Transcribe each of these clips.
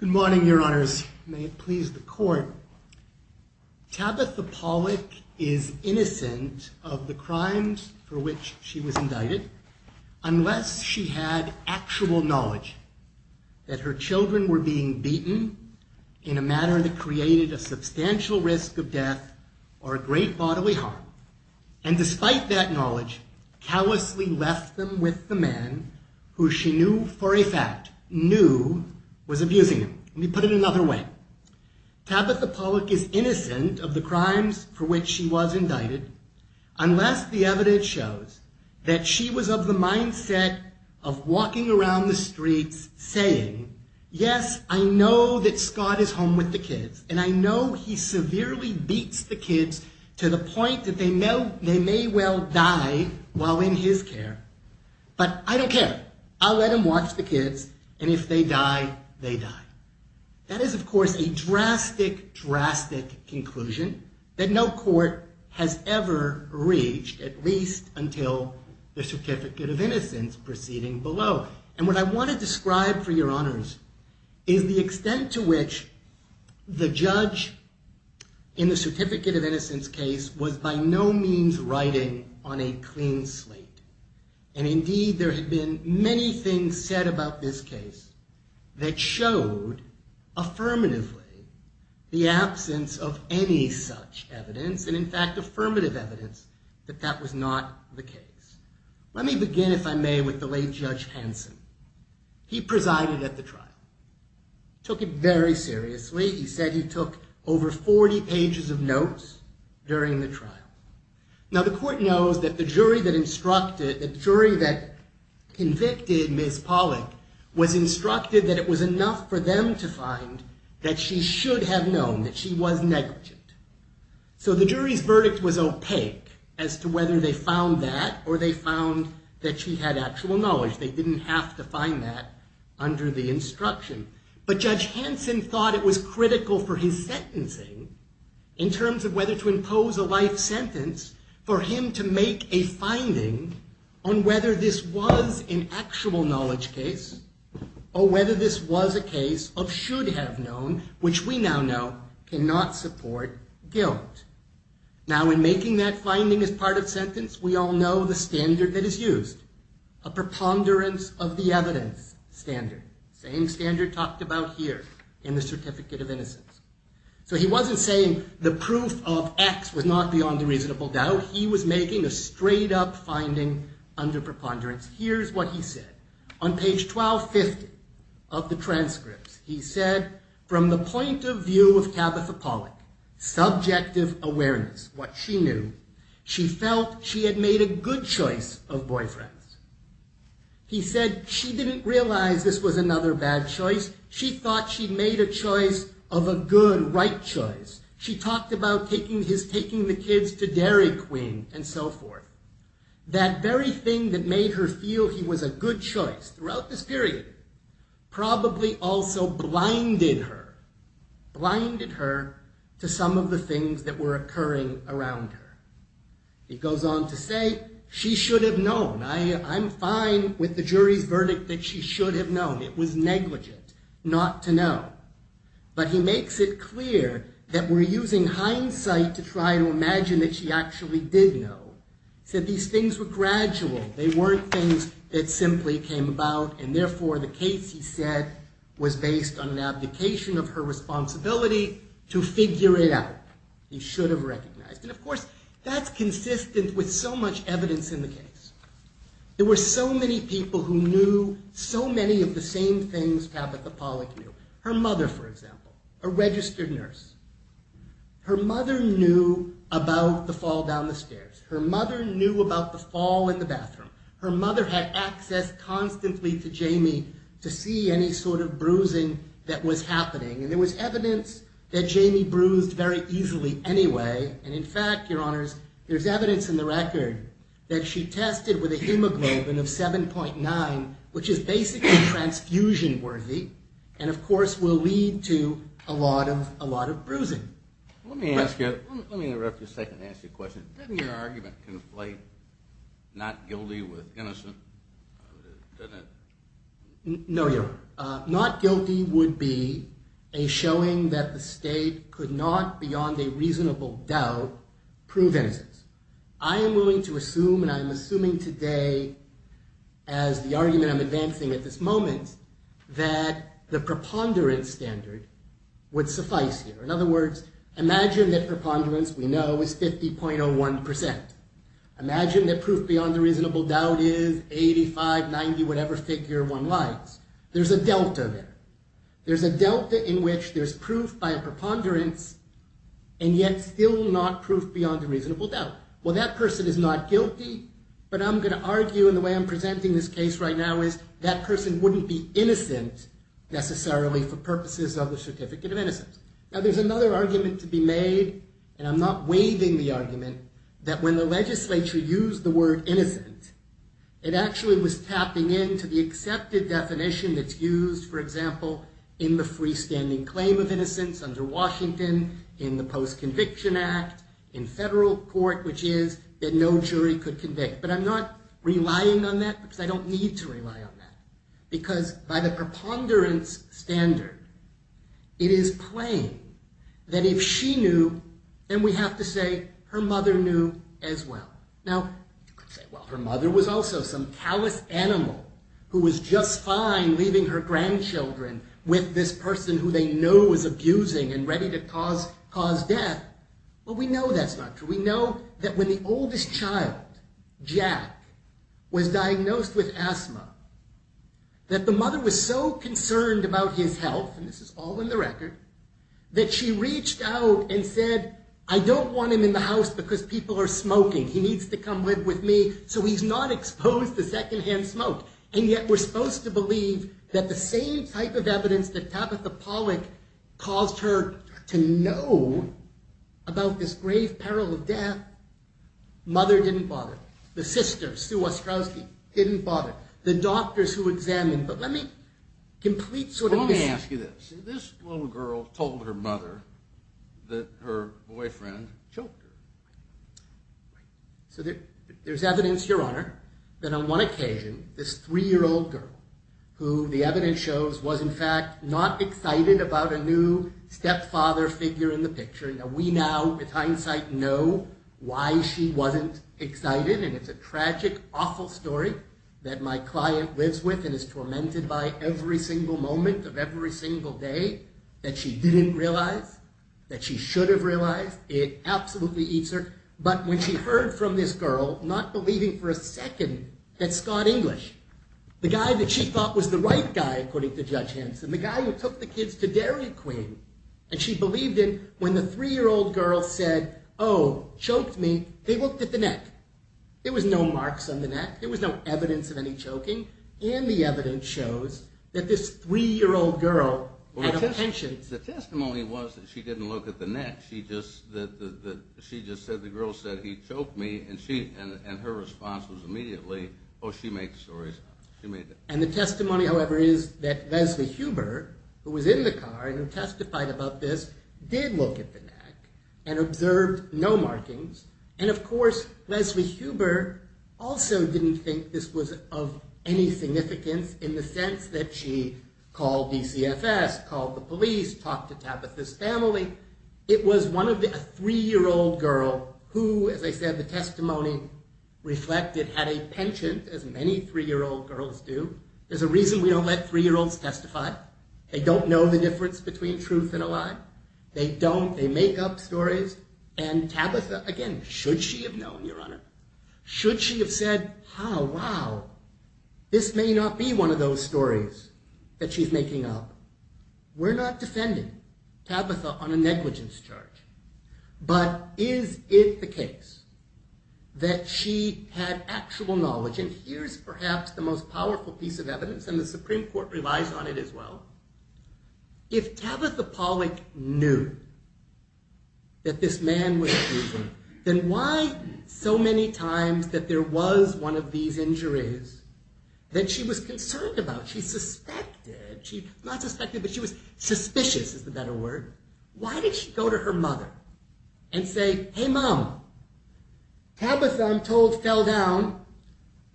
Good morning, your honors. May it please the court. Tabitha Pollock is innocent of the crimes for which she was indicted. unless she had actual knowledge that her children were being beaten in a manner that created a substantial risk of death or a great bodily harm, and despite that knowledge, callously left them with the man who she knew for a fact knew was abusing them. Let me put it another way. Tabitha Pollock is innocent of the crimes for which she was indicted unless the evidence shows that she was of the mindset of walking around the streets saying, yes, I know that Scott is home with the kids, and I know he severely beats the kids to the point that they may well die while in his care, but I don't care. I'll let him watch the kids, and if they die, they die. That is, of course, a drastic, drastic conclusion that no court has ever reached, at least until the Certificate of Innocence proceeding below. And what I want to describe for your honors is the extent to which the judge in the Certificate of Innocence case was by no means writing on a clean slate. And indeed, there had been many things said about this case that showed affirmatively the absence of any such evidence, and in fact, affirmative evidence that that was not the case. Let me begin, if I may, with the late Judge Hanson. He presided at the trial, took it very seriously. He said he took over 40 pages of notes during the trial. Now, the court knows that the jury that convicted Ms. Pollack was instructed that it was enough for them to find that she should have known that she was negligent. So the jury's verdict was opaque as to whether they found that or they found that she had actual knowledge. They didn't have to find that under the instruction. But Judge Hanson thought it was critical for his sentencing, in terms of whether to impose a life sentence, for him to make a finding on whether this was an actual knowledge case or whether this was a case of should have known, which we now know cannot support guilt. Now, in making that finding as part of sentence, we all know the standard that is used, a preponderance of the evidence standard, same standard talked about here in the Certificate of Innocence. So he wasn't saying the proof of X was not beyond a reasonable doubt. He was making a straight-up finding under preponderance. Here's what he said. On page 1250 of the transcripts, he said, from the point of view of Tabitha Pollack, subjective awareness, what she knew, she felt she had made a good choice of boyfriends. He said she didn't realize this was another bad choice. She thought she'd made a choice of a good, right choice. She talked about taking the kids to Dairy Queen and so forth. That very thing that made her feel he was a good choice throughout this period probably also blinded her, blinded her to some of the things that were occurring around her. He goes on to say, she should have known. I'm fine with the jury's verdict that she should have known. It was negligent not to know. But he makes it clear that we're using hindsight to try to imagine that she actually did know. He said these things were gradual. They weren't things that simply came about, and therefore the case, he said, was based on an abdication of her responsibility to figure it out. He should have recognized. And of course, that's consistent with so much evidence in the case. There were so many people who knew so many of the same things Tabitha Pollack knew. Her mother, for example, a registered nurse. Her mother knew about the fall down the stairs. Her mother knew about the fall in the bathroom. Her mother had access constantly to Jamie to see any sort of bruising that was happening. And there was evidence that Jamie bruised very easily anyway. And in fact, your honors, there's evidence in the record that she tested with a hemoglobin of 7.9, which is basically transfusion worthy, and of course will lead to a lot of bruising. Let me ask you, let me interrupt you for a second and ask you a question. Doesn't your argument conflate not guilty with innocent? No, your honor. Not guilty would be a showing that the state could not, beyond a reasonable doubt, prove innocence. I am willing to assume, and I'm assuming today as the argument I'm advancing at this moment, that the preponderance standard would suffice here. In other words, imagine that preponderance, we know, is 50.01%. Imagine that proof beyond a reasonable doubt is 85, 90, whatever figure one likes. There's a delta there. There's a delta in which there's proof by a preponderance and yet still not proof beyond a reasonable doubt. Well, that person is not guilty, but I'm going to argue in the way I'm presenting this case right now is that person wouldn't be innocent necessarily for purposes of the certificate of innocence. Now, there's another argument to be made, and I'm not waiving the argument, that when the legislature used the word innocent, it actually was tapping into the accepted definition that's used, for example, in the freestanding claim of innocence under Washington, in the Post-Conviction Act, in federal court, which is that no jury could convict. But I'm not relying on that because I don't need to rely on that. Because by the preponderance standard, it is plain that if she knew, then we have to say her mother knew as well. Now, you could say, well, her mother was also some callous animal who was just fine leaving her grandchildren with this person who they know is abusing and ready to cause death. Well, we know that's not true. We know that when the oldest child, Jack, was diagnosed with asthma, that the mother was so concerned about his health, and this is all in the record, that she reached out and said, I don't want him in the house because people are smoking. He needs to come live with me. So he's not exposed to secondhand smoke. And yet, we're supposed to believe that the same type of evidence that Tabitha Pollack caused her to know about this grave peril of death, mother didn't bother. The sisters, Sue Ostrowski, didn't bother. The doctors who examined, but let me complete sort of this. Let me ask you this. This little girl told her mother that her boyfriend choked her. So there's evidence, Your Honor, that on one occasion, this three-year-old girl, who the evidence shows was in fact not excited about a new stepfather figure in the picture. Now, we now, with hindsight, know why she wasn't excited, and it's a tragic, awful story that my client lives with and is tormented by every single moment of every single day that she didn't realize, that she should have realized. It absolutely eats her. But when she heard from this girl, not believing for a second that Scott English, the guy that she thought was the right guy, according to Judge Hanson, the guy who took the kids to Dairy Queen, and she believed him when the three-year-old girl said, oh, choked me, they looked at the neck. There was no marks on the neck. There was no evidence of any choking. And the evidence shows that this three-year-old girl had a penchant. The testimony was that she didn't look at the neck. She just said, the girl said, he choked me, and her response was immediately, oh, she makes stories. And the testimony, however, is that Leslie Huber, who was in the car and testified about this, did look at the neck and observed no markings. And of course, Leslie Huber also didn't think this was of any significance in the sense that she called DCFS, called the police, talked to Tabitha's family. It was a three-year-old girl who, as I said, the testimony reflected had a penchant, as many three-year-old girls do. There's a reason we don't let three-year-olds testify. They don't know the difference between truth and a lie. They don't. They make up stories. And Tabitha, again, should she have known, Your Honor, should she have said, oh, wow, this may not be one of those stories that she's making up. We're not defending Tabitha on a negligence charge. But is it the case that she had actual knowledge? And here's perhaps the most powerful piece of evidence, and the Supreme Court relies on it as well. If Tabitha Pollock knew that this man was a thief, then why so many times that there was one of these injuries that she was concerned about, she suspected, not suspected, but she was suspicious is the better word. Why did she go to her mother and say, hey, Mom, Tabitha, I'm told, fell down.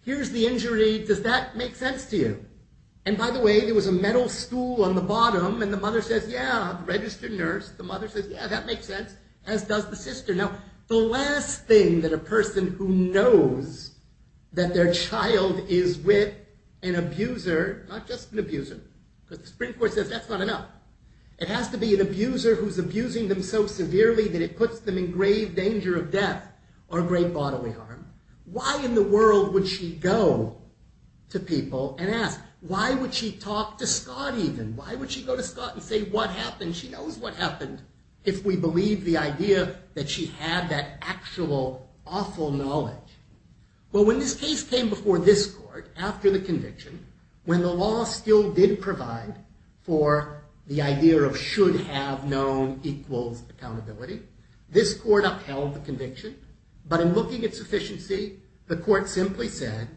Here's the injury. Does that make sense to you? And by the way, there was a metal stool on the bottom, and the mother says, yeah, registered nurse. The mother says, yeah, that makes sense, as does the sister. Now, the last thing that a person who knows that their child is with an abuser, not just an abuser, because the Supreme Court says that's not enough. It has to be an abuser who's abusing them so severely that it puts them in grave danger of death or great bodily harm. Why in the world would she go to people and ask? Why would she talk to Scott even? Why would she go to Scott and say what happened? She knows what happened if we believe the idea that she had that actual awful knowledge. Well, when this case came before this court after the conviction, when the law still did provide for the idea of should have known equals accountability, this court upheld the conviction. But in looking at sufficiency, the court simply said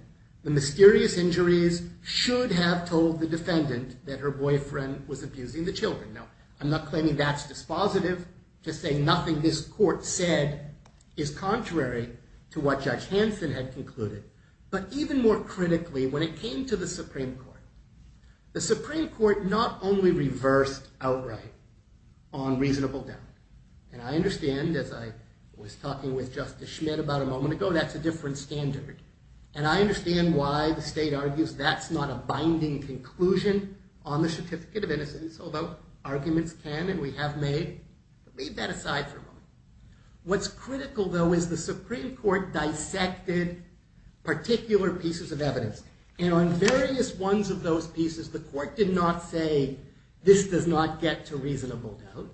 the mysterious injuries should have told the defendant that her boyfriend was abusing the children. Now, I'm not claiming that's dispositive to say nothing this court said is contrary to what Judge Hanson had concluded. But even more critically, when it came to the Supreme Court, the Supreme Court not only reversed outright on reasonable doubt. And I understand, as I was talking with Justice Schmidt about a moment ago, that's a different standard. And I understand why the state argues that's not a binding conclusion on the certificate of innocence, although arguments can and we have made. But leave that aside for a moment. What's critical, though, is the Supreme Court dissected particular pieces of evidence. And on various ones of those pieces, the court did not say this does not get to reasonable doubt.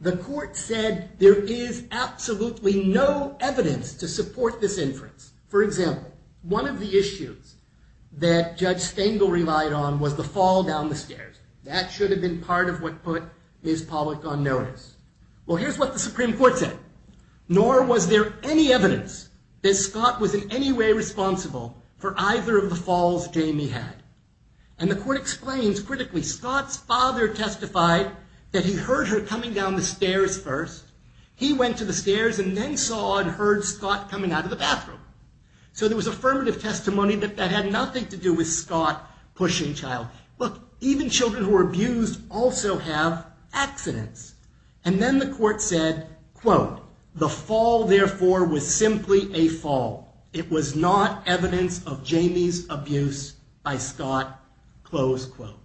The court said there is absolutely no evidence to support this inference. For example, one of the issues that Judge Stengel relied on was the fall down the stairs. That should have been part of what put Ms. Pollack on notice. Well, here's what the Supreme Court said. Nor was there any evidence that Scott was in any way responsible for either of the falls Jamie had. And the court explains, critically, Scott's father testified that he heard her coming down the stairs first. He went to the stairs and then saw and heard Scott coming out of the bathroom. So there was affirmative testimony that that had nothing to do with Scott pushing child. Look, even children who are abused also have accidents. And then the court said, quote, the fall, therefore, was simply a fall. It was not evidence of Jamie's abuse by Scott, close quote.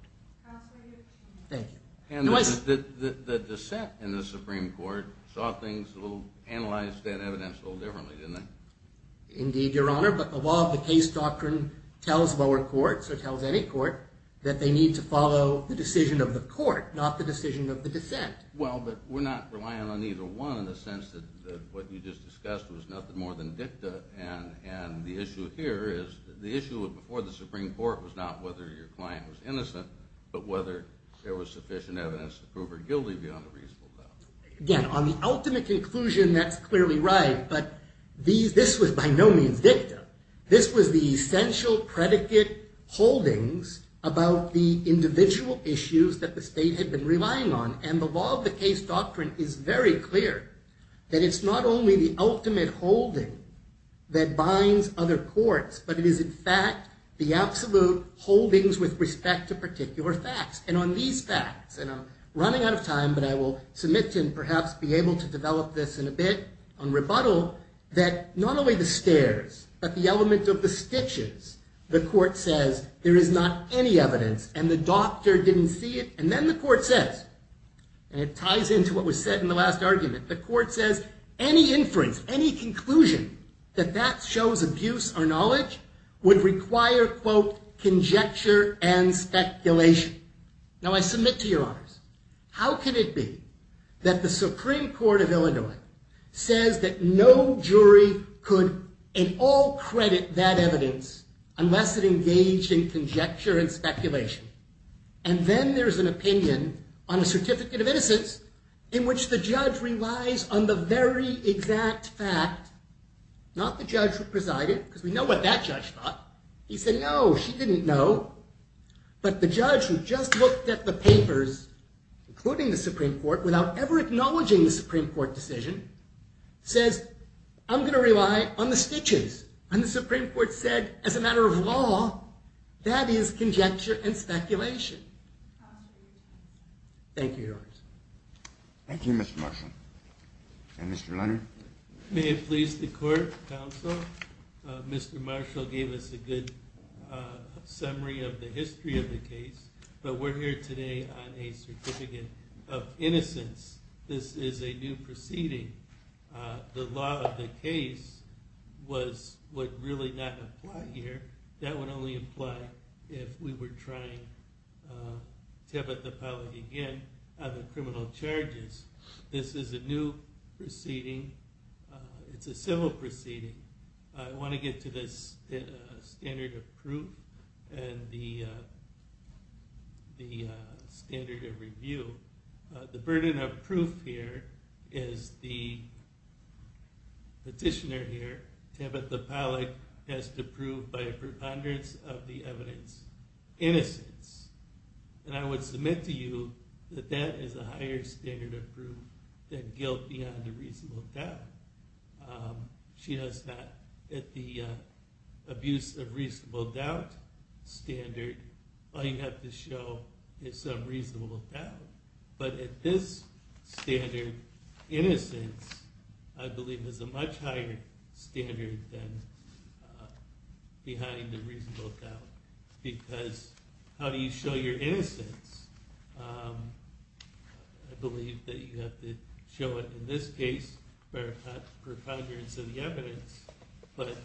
Thank you. And the dissent in the Supreme Court saw things a little, analyzed that evidence a little differently, didn't it? Indeed, Your Honor. But the law of the case doctrine tells lower courts or tells any court that they need to follow the decision of the court, not the decision of the dissent. Well, but we're not relying on either one in the sense that what you just discussed was nothing more than dicta. And the issue here is the issue before the Supreme Court was not whether your client was innocent, but whether there was sufficient evidence to prove her guilty beyond a reasonable doubt. Again, on the ultimate conclusion, that's clearly right. But this was by no means dicta. This was the essential predicate holdings about the individual issues that the state had been relying on. And the law of the case doctrine is very clear that it's not only the ultimate holding that binds other courts, but it is, in fact, the absolute holdings with respect to particular facts. And on these facts, and I'm running out of time, but I will submit to and perhaps be able to develop this in a bit on rebuttal, that not only the stairs, but the element of the stitches, the court says there is not any evidence and the doctor didn't see it. And then the court says, and it ties into what was said in the last argument, the court says any inference, any conclusion that that shows abuse or knowledge would require, quote, conjecture and speculation. Now, I submit to your honors, how could it be that the Supreme Court of Illinois says that no jury could in all credit that evidence unless it engaged in conjecture and speculation? And then there's an opinion on a certificate of innocence in which the judge relies on the very exact fact, not the judge who presided, because we know what that judge thought. He said, no, she didn't know. But the judge who just looked at the papers, including the Supreme Court, without ever acknowledging the Supreme Court decision, says, I'm going to rely on the stitches. And the Supreme Court said, as a matter of law, that is conjecture and speculation. Thank you, your honors. Thank you, Mr. Marshall. And Mr. Leonard? May it please the court, counsel. Mr. Marshall gave us a good summary of the history of the case. But we're here today on a certificate of innocence. This is a new proceeding. The law of the case was what really did not apply here. That would only apply if we were trying tepid apology again on the criminal charges. This is a new proceeding. It's a civil proceeding. I want to get to the standard of proof and the standard of review. The burden of proof here is the petitioner here, Tabitha Pollack, has to prove by a preponderance of the evidence innocence. And I would submit to you that that is a higher standard of proof than guilt beyond a reasonable doubt. She has not, at the abuse of reasonable doubt standard, all you have to show is some reasonable doubt. But at this standard, innocence, I believe, is a much higher standard than behind a reasonable doubt. Because how do you show your innocence? I believe that you have to show it in this case by a preponderance of the evidence. But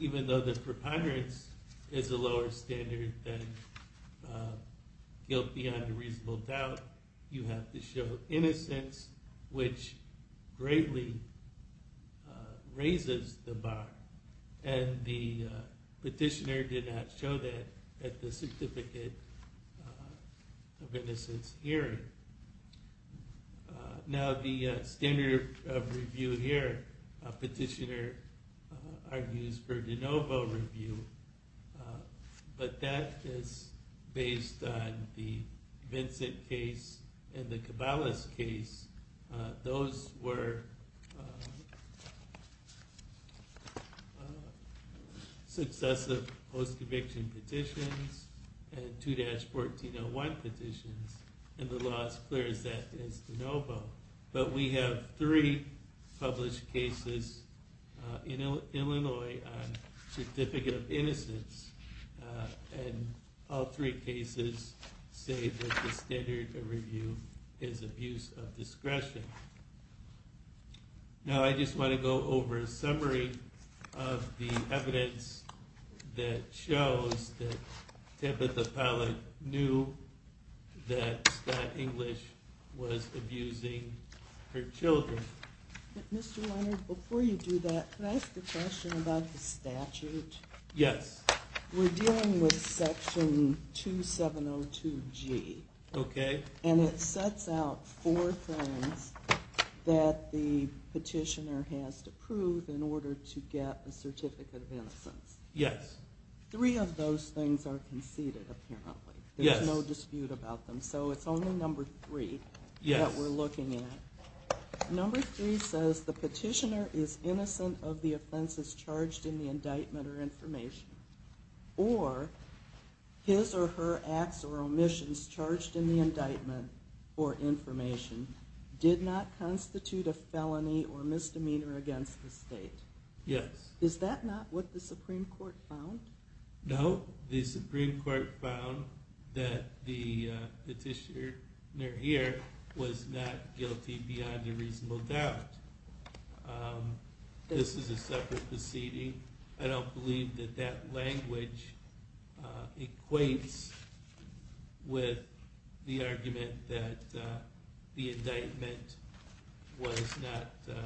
even though the preponderance is a lower standard than guilt beyond a reasonable doubt, you have to show innocence, which greatly raises the bar. And the petitioner did not show that at the certificate of innocence hearing. Now the standard of review here, a petitioner argues for de novo review. But that is based on the Vincent case and the Cabales case. Those were successive post-conviction petitions and 2-1401 petitions. And the law is clear that that is de novo. But we have three published cases in Illinois on certificate of innocence. And all three cases say that the standard of review is abuse of discretion. Now I just want to go over a summary of the evidence that shows that Tabitha Pallett knew that Scott English was abusing her children. But Mr. Leonard, before you do that, can I ask a question about the statute? Yes. We're dealing with section 2702G. Okay. And it sets out four things that the petitioner has to prove in order to get a certificate of innocence. Yes. Three of those things are conceded, apparently. Yes. There's no dispute about them. So it's only number three that we're looking at. Number three says the petitioner is innocent of the offenses charged in the indictment or information. Or his or her acts or omissions charged in the indictment or information did not constitute a felony or misdemeanor against the state. Yes. Is that not what the Supreme Court found? No. The Supreme Court found that the petitioner here was not guilty beyond a reasonable doubt. This is a separate proceeding. I don't believe that that language equates with the argument that the indictment was not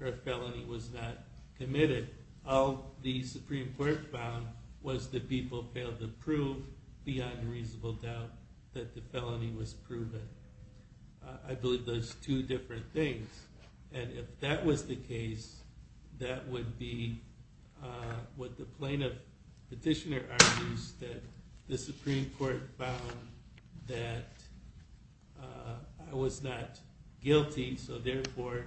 or a felony was not committed. All the Supreme Court found was that people failed to prove beyond a reasonable doubt that the felony was proven. I believe those are two different things. And if that was the case, that would be what the plaintiff petitioner argues, that the Supreme Court found that I was not guilty, so therefore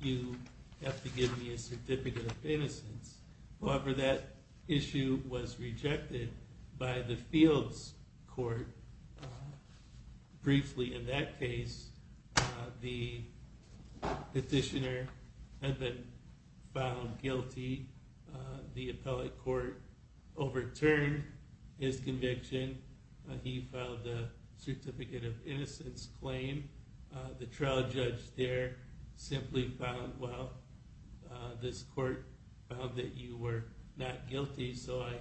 you have to give me a certificate of innocence. However, that issue was rejected by the Fields Court. Briefly, in that case, the petitioner had been found guilty. The appellate court overturned his conviction. He filed a certificate of innocence claim. The trial judge there simply found, well, this court found that you were not guilty, so I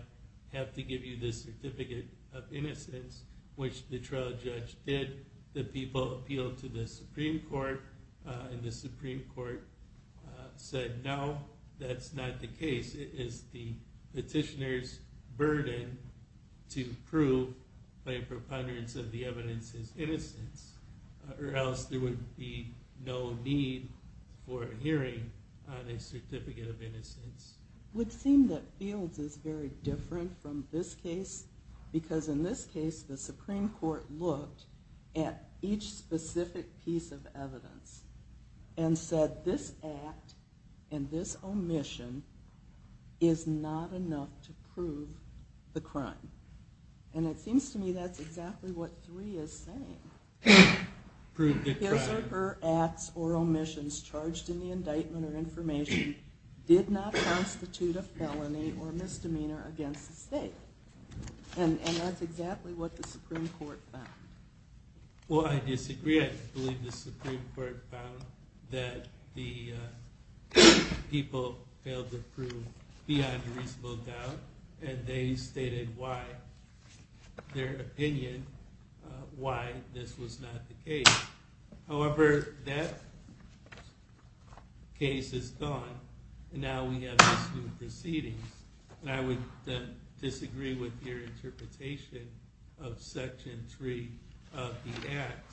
have to give you this certificate of innocence, which the trial judge did. The people appealed to the Supreme Court, and the Supreme Court said, no, that's not the case. It is the petitioner's burden to prove by a preponderance of the evidence his innocence, or else there would be no need for a hearing on a certificate of innocence. It would seem that Fields is very different from this case, because in this case the Supreme Court looked at each specific piece of evidence and said this act and this omission is not enough to prove the crime. And it seems to me that's exactly what Three is saying. His or her acts or omissions charged in the indictment or information did not constitute a felony or misdemeanor against the state. And that's exactly what the Supreme Court found. Well, I disagree. I believe the Supreme Court found that the people failed to prove beyond a reasonable doubt, and they stated their opinion why this was not the case. However, that case is gone, and now we have these new proceedings. And I would disagree with your interpretation of Section 3 of the Act,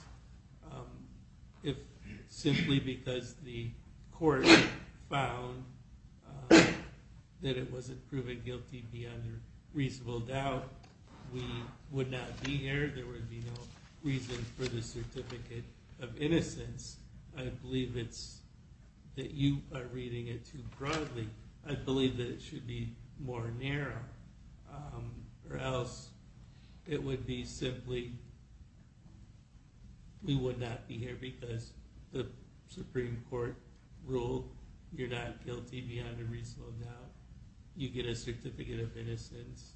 simply because the court found that it wasn't proven guilty beyond a reasonable doubt. We would not be here. There would be no reason for the certificate of innocence. I believe it's that you are reading it too broadly. I believe that it should be more narrow, or else it would be simply we would not be here because the Supreme Court ruled you're not guilty beyond a reasonable doubt. You get a certificate of innocence,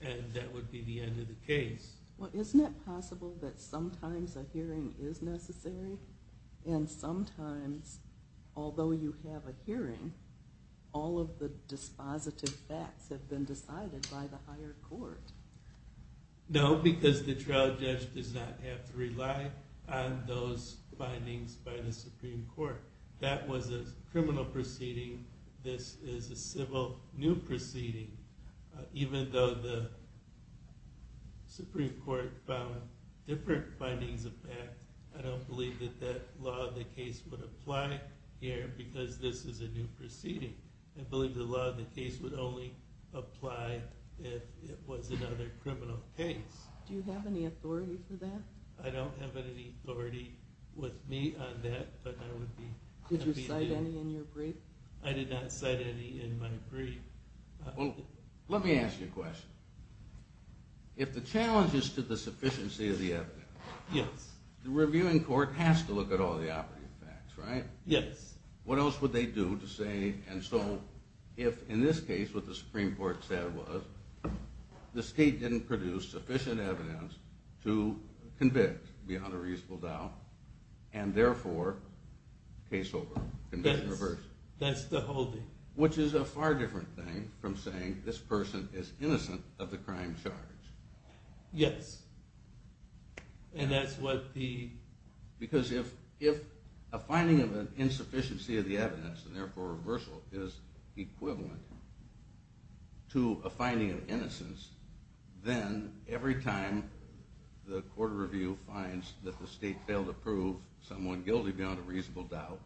and that would be the end of the case. Well, isn't it possible that sometimes a hearing is necessary, and sometimes, although you have a hearing, all of the dispositive facts have been decided by the higher court? No, because the trial judge does not have to rely on those findings by the Supreme Court. That was a criminal proceeding. This is a civil new proceeding. Even though the Supreme Court found different findings of that, I don't believe that that law of the case would apply here because this is a new proceeding. I believe the law of the case would only apply if it was another criminal case. Do you have any authority for that? I don't have any authority with me on that, but I would be happy to. Did you cite any in your brief? I did not cite any in my brief. Let me ask you a question. If the challenge is to the sufficiency of the evidence, the reviewing court has to look at all the operative facts, right? Yes. What else would they do to say, and so if in this case what the Supreme Court said was the state didn't produce sufficient evidence to convict beyond a reasonable doubt, and therefore case over, conviction reversed. That's the whole thing. Which is a far different thing from saying this person is innocent of the crime charge. Yes. And that's what the... Because if a finding of an insufficiency of the evidence, and therefore reversal is equivalent to a finding of innocence, then every time the court of review finds that the state failed to prove someone guilty beyond a reasonable doubt,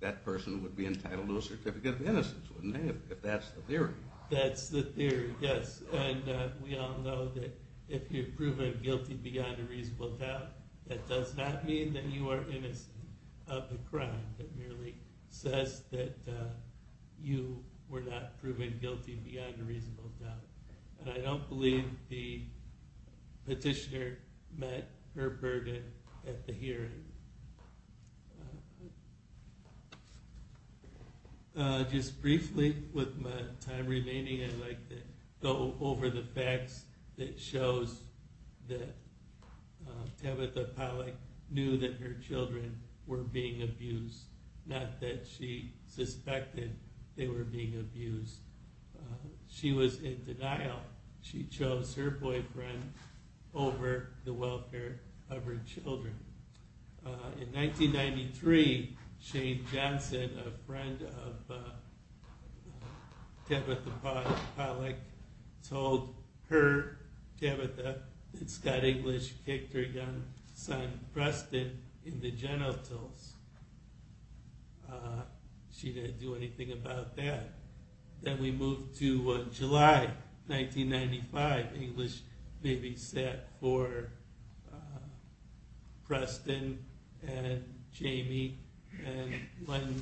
that person would be entitled to a certificate of innocence, wouldn't they, if that's the theory? That's the theory, yes. And we all know that if you've proven guilty beyond a reasonable doubt, that does not mean that you are innocent of the crime. It merely says that you were not proven guilty beyond a reasonable doubt. And I don't believe the petitioner met her burden at the hearing. Just briefly, with my time remaining, I'd like to go over the facts that shows that Tabitha Pollack knew that her children were being abused, not that she suspected they were being abused. She was in denial. She chose her boyfriend over the welfare of her children. In 1993, Shane Johnson, a friend of Tabitha Pollack, told her, Tabitha, that Scott English kicked her young son Preston in the genitals. She didn't do anything about that. Then we move to July 1995. English babysat for Preston and Jamie. And when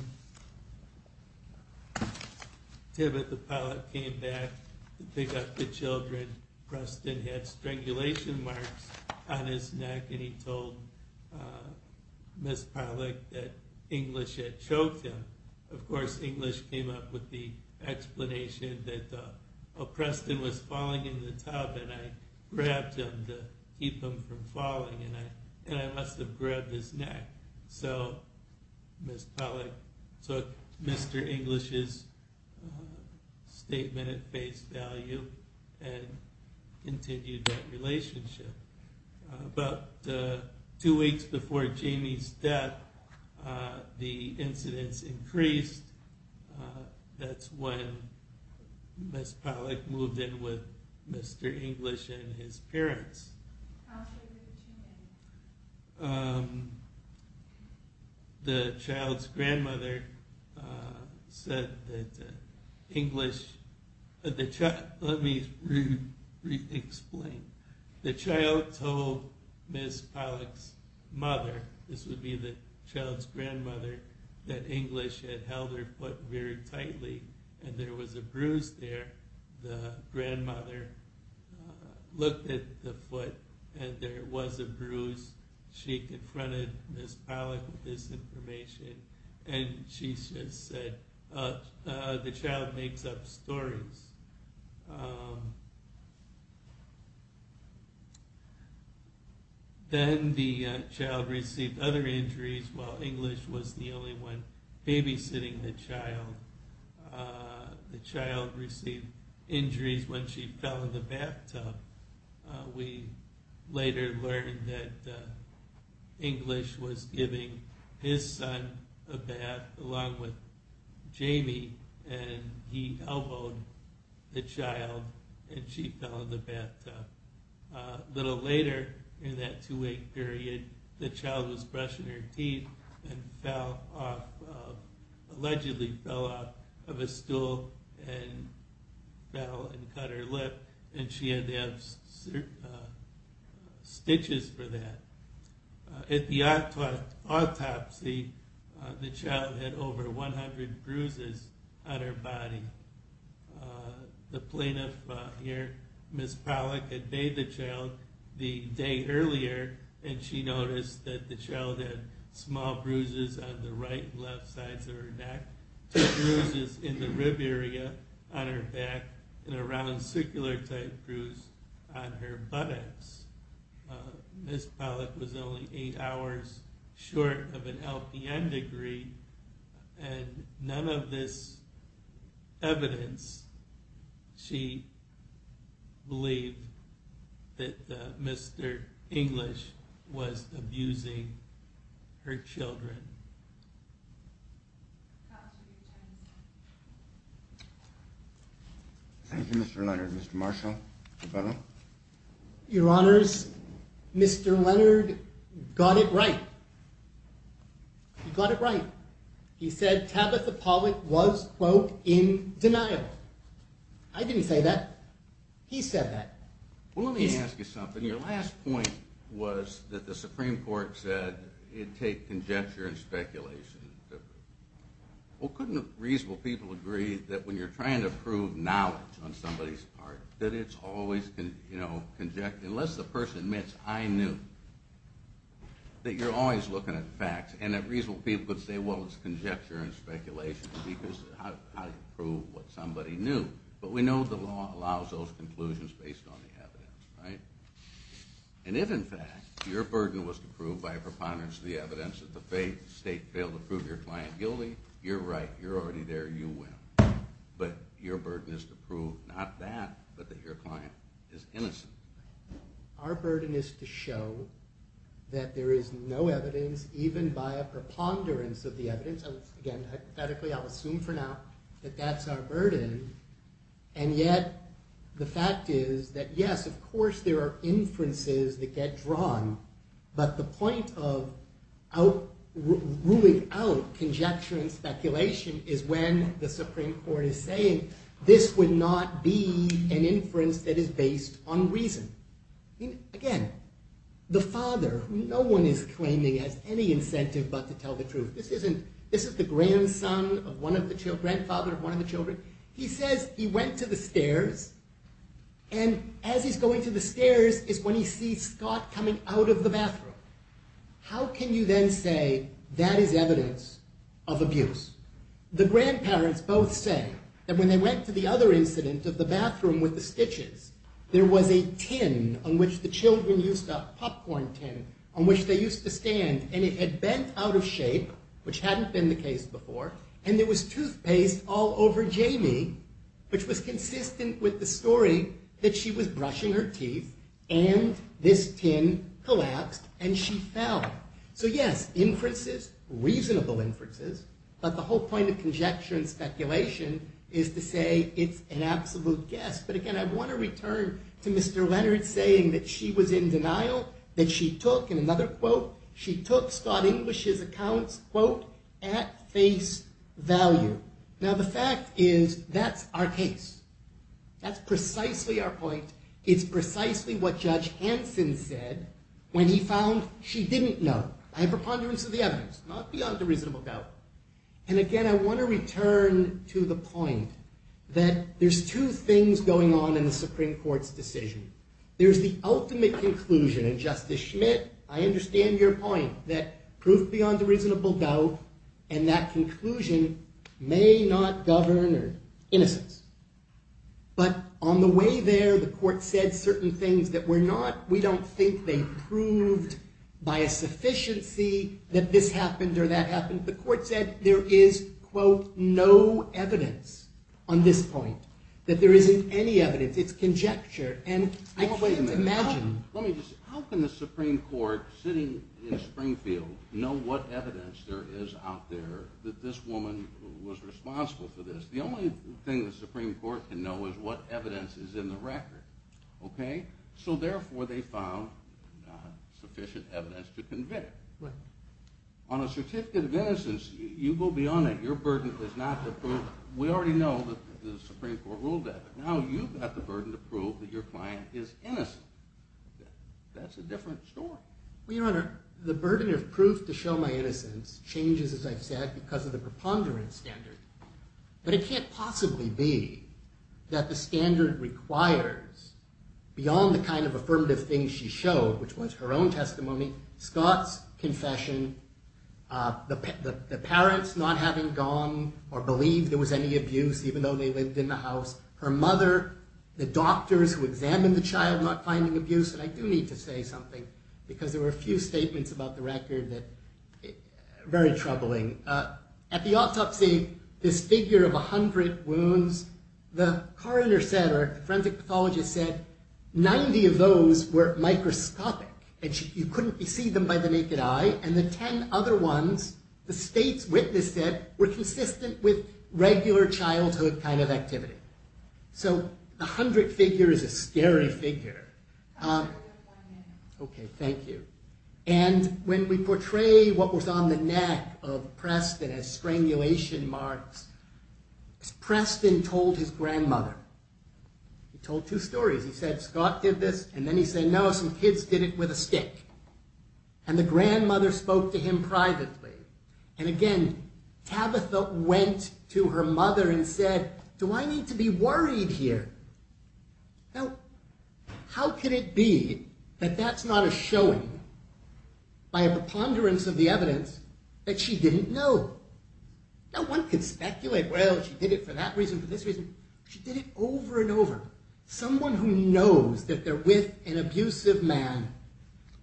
Tabitha Pollack came back to pick up the children, Preston had strangulation marks on his neck, and he told Ms. Pollack that English had choked him. Of course, English came up with the explanation that Preston was falling in the tub and I grabbed him to keep him from falling, and I must have grabbed his neck. So Ms. Pollack took Mr. English's statement at face value and continued that relationship. About two weeks before Jamie's death, the incidents increased. That's when Ms. Pollack moved in with Mr. English and his parents. The child's grandmother said that English... Let me re-explain. The child told Ms. Pollack's mother, this would be the child's grandmother, that English had held her foot very tightly and there was a bruise there. The grandmother looked at the foot and there was a bruise. She confronted Ms. Pollack with this information, and she said, the child makes up stories. Then the child received other injuries while English was the only one babysitting the child. The child received injuries when she fell in the bathtub. We later learned that English was giving his son a bath along with Jamie, and he elbowed the child and she fell in the bathtub. A little later, in that two-week period, the child was brushing her teeth and allegedly fell off of a stool and cut her lip, and she had to have stitches for that. At the autopsy, the child had over 100 bruises on her body. The plaintiff here, Ms. Pollack, had bathed the child the day earlier and she noticed that the child had small bruises on the right and left sides of her neck to bruises in the rib area on her back and a round, circular-type bruise on her buttocks. Ms. Pollack was only eight hours short of an LPN degree, and none of this evidence she believed that Mr. English was abusing her children. Thank you, Mr. Leonard. Mr. Marshall? Your Honors, Mr. Leonard got it right. He got it right. He said Tabitha Pollack was, quote, in denial. I didn't say that. He said that. Well, let me ask you something. Your last point was that the Supreme Court said it'd take conjecture and speculation. Well, couldn't reasonable people agree that when you're trying to prove knowledge on somebody's part, that it's always, you know, unless the person admits I knew, that you're always looking at facts and that reasonable people could say, well, it's conjecture and speculation because how do you prove what somebody knew? But we know the law allows those conclusions based on the evidence, right? And if, in fact, your burden was to prove by a preponderance of the evidence that the state failed to prove your client guilty, you're right. You're already there. You win. But your burden is to prove not that, but that your client is innocent. Our burden is to show that there is no evidence, even by a preponderance of the evidence. Again, hypothetically, I'll assume for now that that's our burden. And yet the fact is that, yes, of course, there are inferences that get drawn. But the point of ruling out conjecture and speculation is when the Supreme Court is saying, this would not be an inference that is based on reason. Again, the father, no one is claiming has any incentive but to tell the truth. This is the grandson of one of the children, grandfather of one of the children. He says he went to the stairs, and as he's going to the stairs is when he sees Scott coming out of the bathroom. How can you then say that is evidence of abuse? The grandparents both say that when they went to the other incident of the bathroom with the stitches, there was a tin on which the children used up, popcorn tin, on which they used to stand, and it had bent out of shape, which hadn't been the case before, and there was toothpaste all over Jamie, which was consistent with the story that she was brushing her teeth, and this tin collapsed, and she fell. So yes, inferences, reasonable inferences, but the whole point of conjecture and speculation is to say it's an absolute guess. But again, I want to return to Mr. Leonard saying that she was in denial, that she took, in another quote, she took Scott English's accounts, quote, at face value. Now the fact is that's our case. That's precisely our point. It's precisely what Judge Hanson said when he found she didn't know. I have a preponderance of the evidence, not beyond a reasonable doubt. And again, I want to return to the point that there's two things going on in the Supreme Court's decision. There's the ultimate conclusion, and Justice Schmidt, I understand your point, that proof beyond a reasonable doubt, and that conclusion may not govern innocence. But on the way there, the court said certain things that were not, we don't think they proved by a sufficiency that this happened or that happened. The court said there is, quote, no evidence on this point, that there isn't any evidence. It's conjecture, and I can't imagine. Let me just say, how can the Supreme Court, sitting in Springfield, know what evidence there is out there that this woman was responsible for this? The only thing the Supreme Court can know is what evidence is in the record, okay? So therefore, they found sufficient evidence to convict. On a certificate of innocence, you go beyond it. Your burden is not the proof. We already know that the Supreme Court ruled that. Now you've got the burden to prove that your client is innocent. That's a different story. Well, Your Honor, the burden of proof to show my innocence changes, as I've said, because of the preponderance standard. But it can't possibly be that the standard requires, beyond the kind of affirmative things she showed, which was her own testimony, Scott's confession, the parents not having gone or believed there was any abuse, even though they lived in the house, her mother, the doctors who examined the child, not finding abuse. And I do need to say something, because there were a few statements about the record that are very troubling. At the autopsy, this figure of 100 wounds, the coroner said, or the forensic pathologist said, 90 of those were microscopic, and you couldn't see them by the naked eye, and the 10 other ones, the states witnessed it were consistent with regular childhood kind of activity. So the 100 figure is a scary figure. Okay, thank you. And when we portray what was on the neck of Preston as strangulation marks, Preston told his grandmother. He told two stories. He said, Scott did this, and then he said, no, some kids did it with a stick. And the grandmother spoke to him privately. And again, Tabitha went to her mother and said, do I need to be worried here? Now, how could it be that that's not a showing by a preponderance of the evidence that she didn't know? Now, one could speculate, well, she did it for that reason, for this reason. She did it over and over. Someone who knows that they're with an abusive man,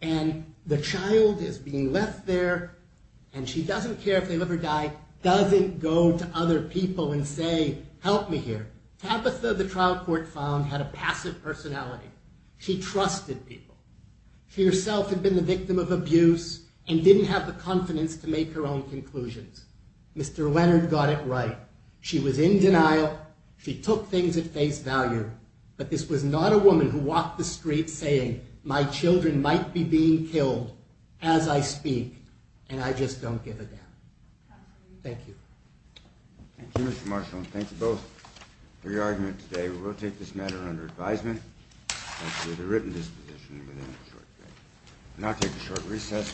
and the child is being left there, and she doesn't care if they live or die, doesn't go to other people and say, help me here. Tabitha, the trial court found, had a passive personality. She trusted people. She herself had been the victim of abuse and didn't have the confidence to make her own conclusions. Mr. Leonard got it right. She was in denial. She took things at face value, but this was not a woman who walked the street saying, my children might be being killed as I speak, and I just don't give a damn. Thank you. Thank you, Mr. Marshall, and thank you both for your argument today. We will take this matter under advisement, and to the written disposition within a short period. We'll now take a short recess.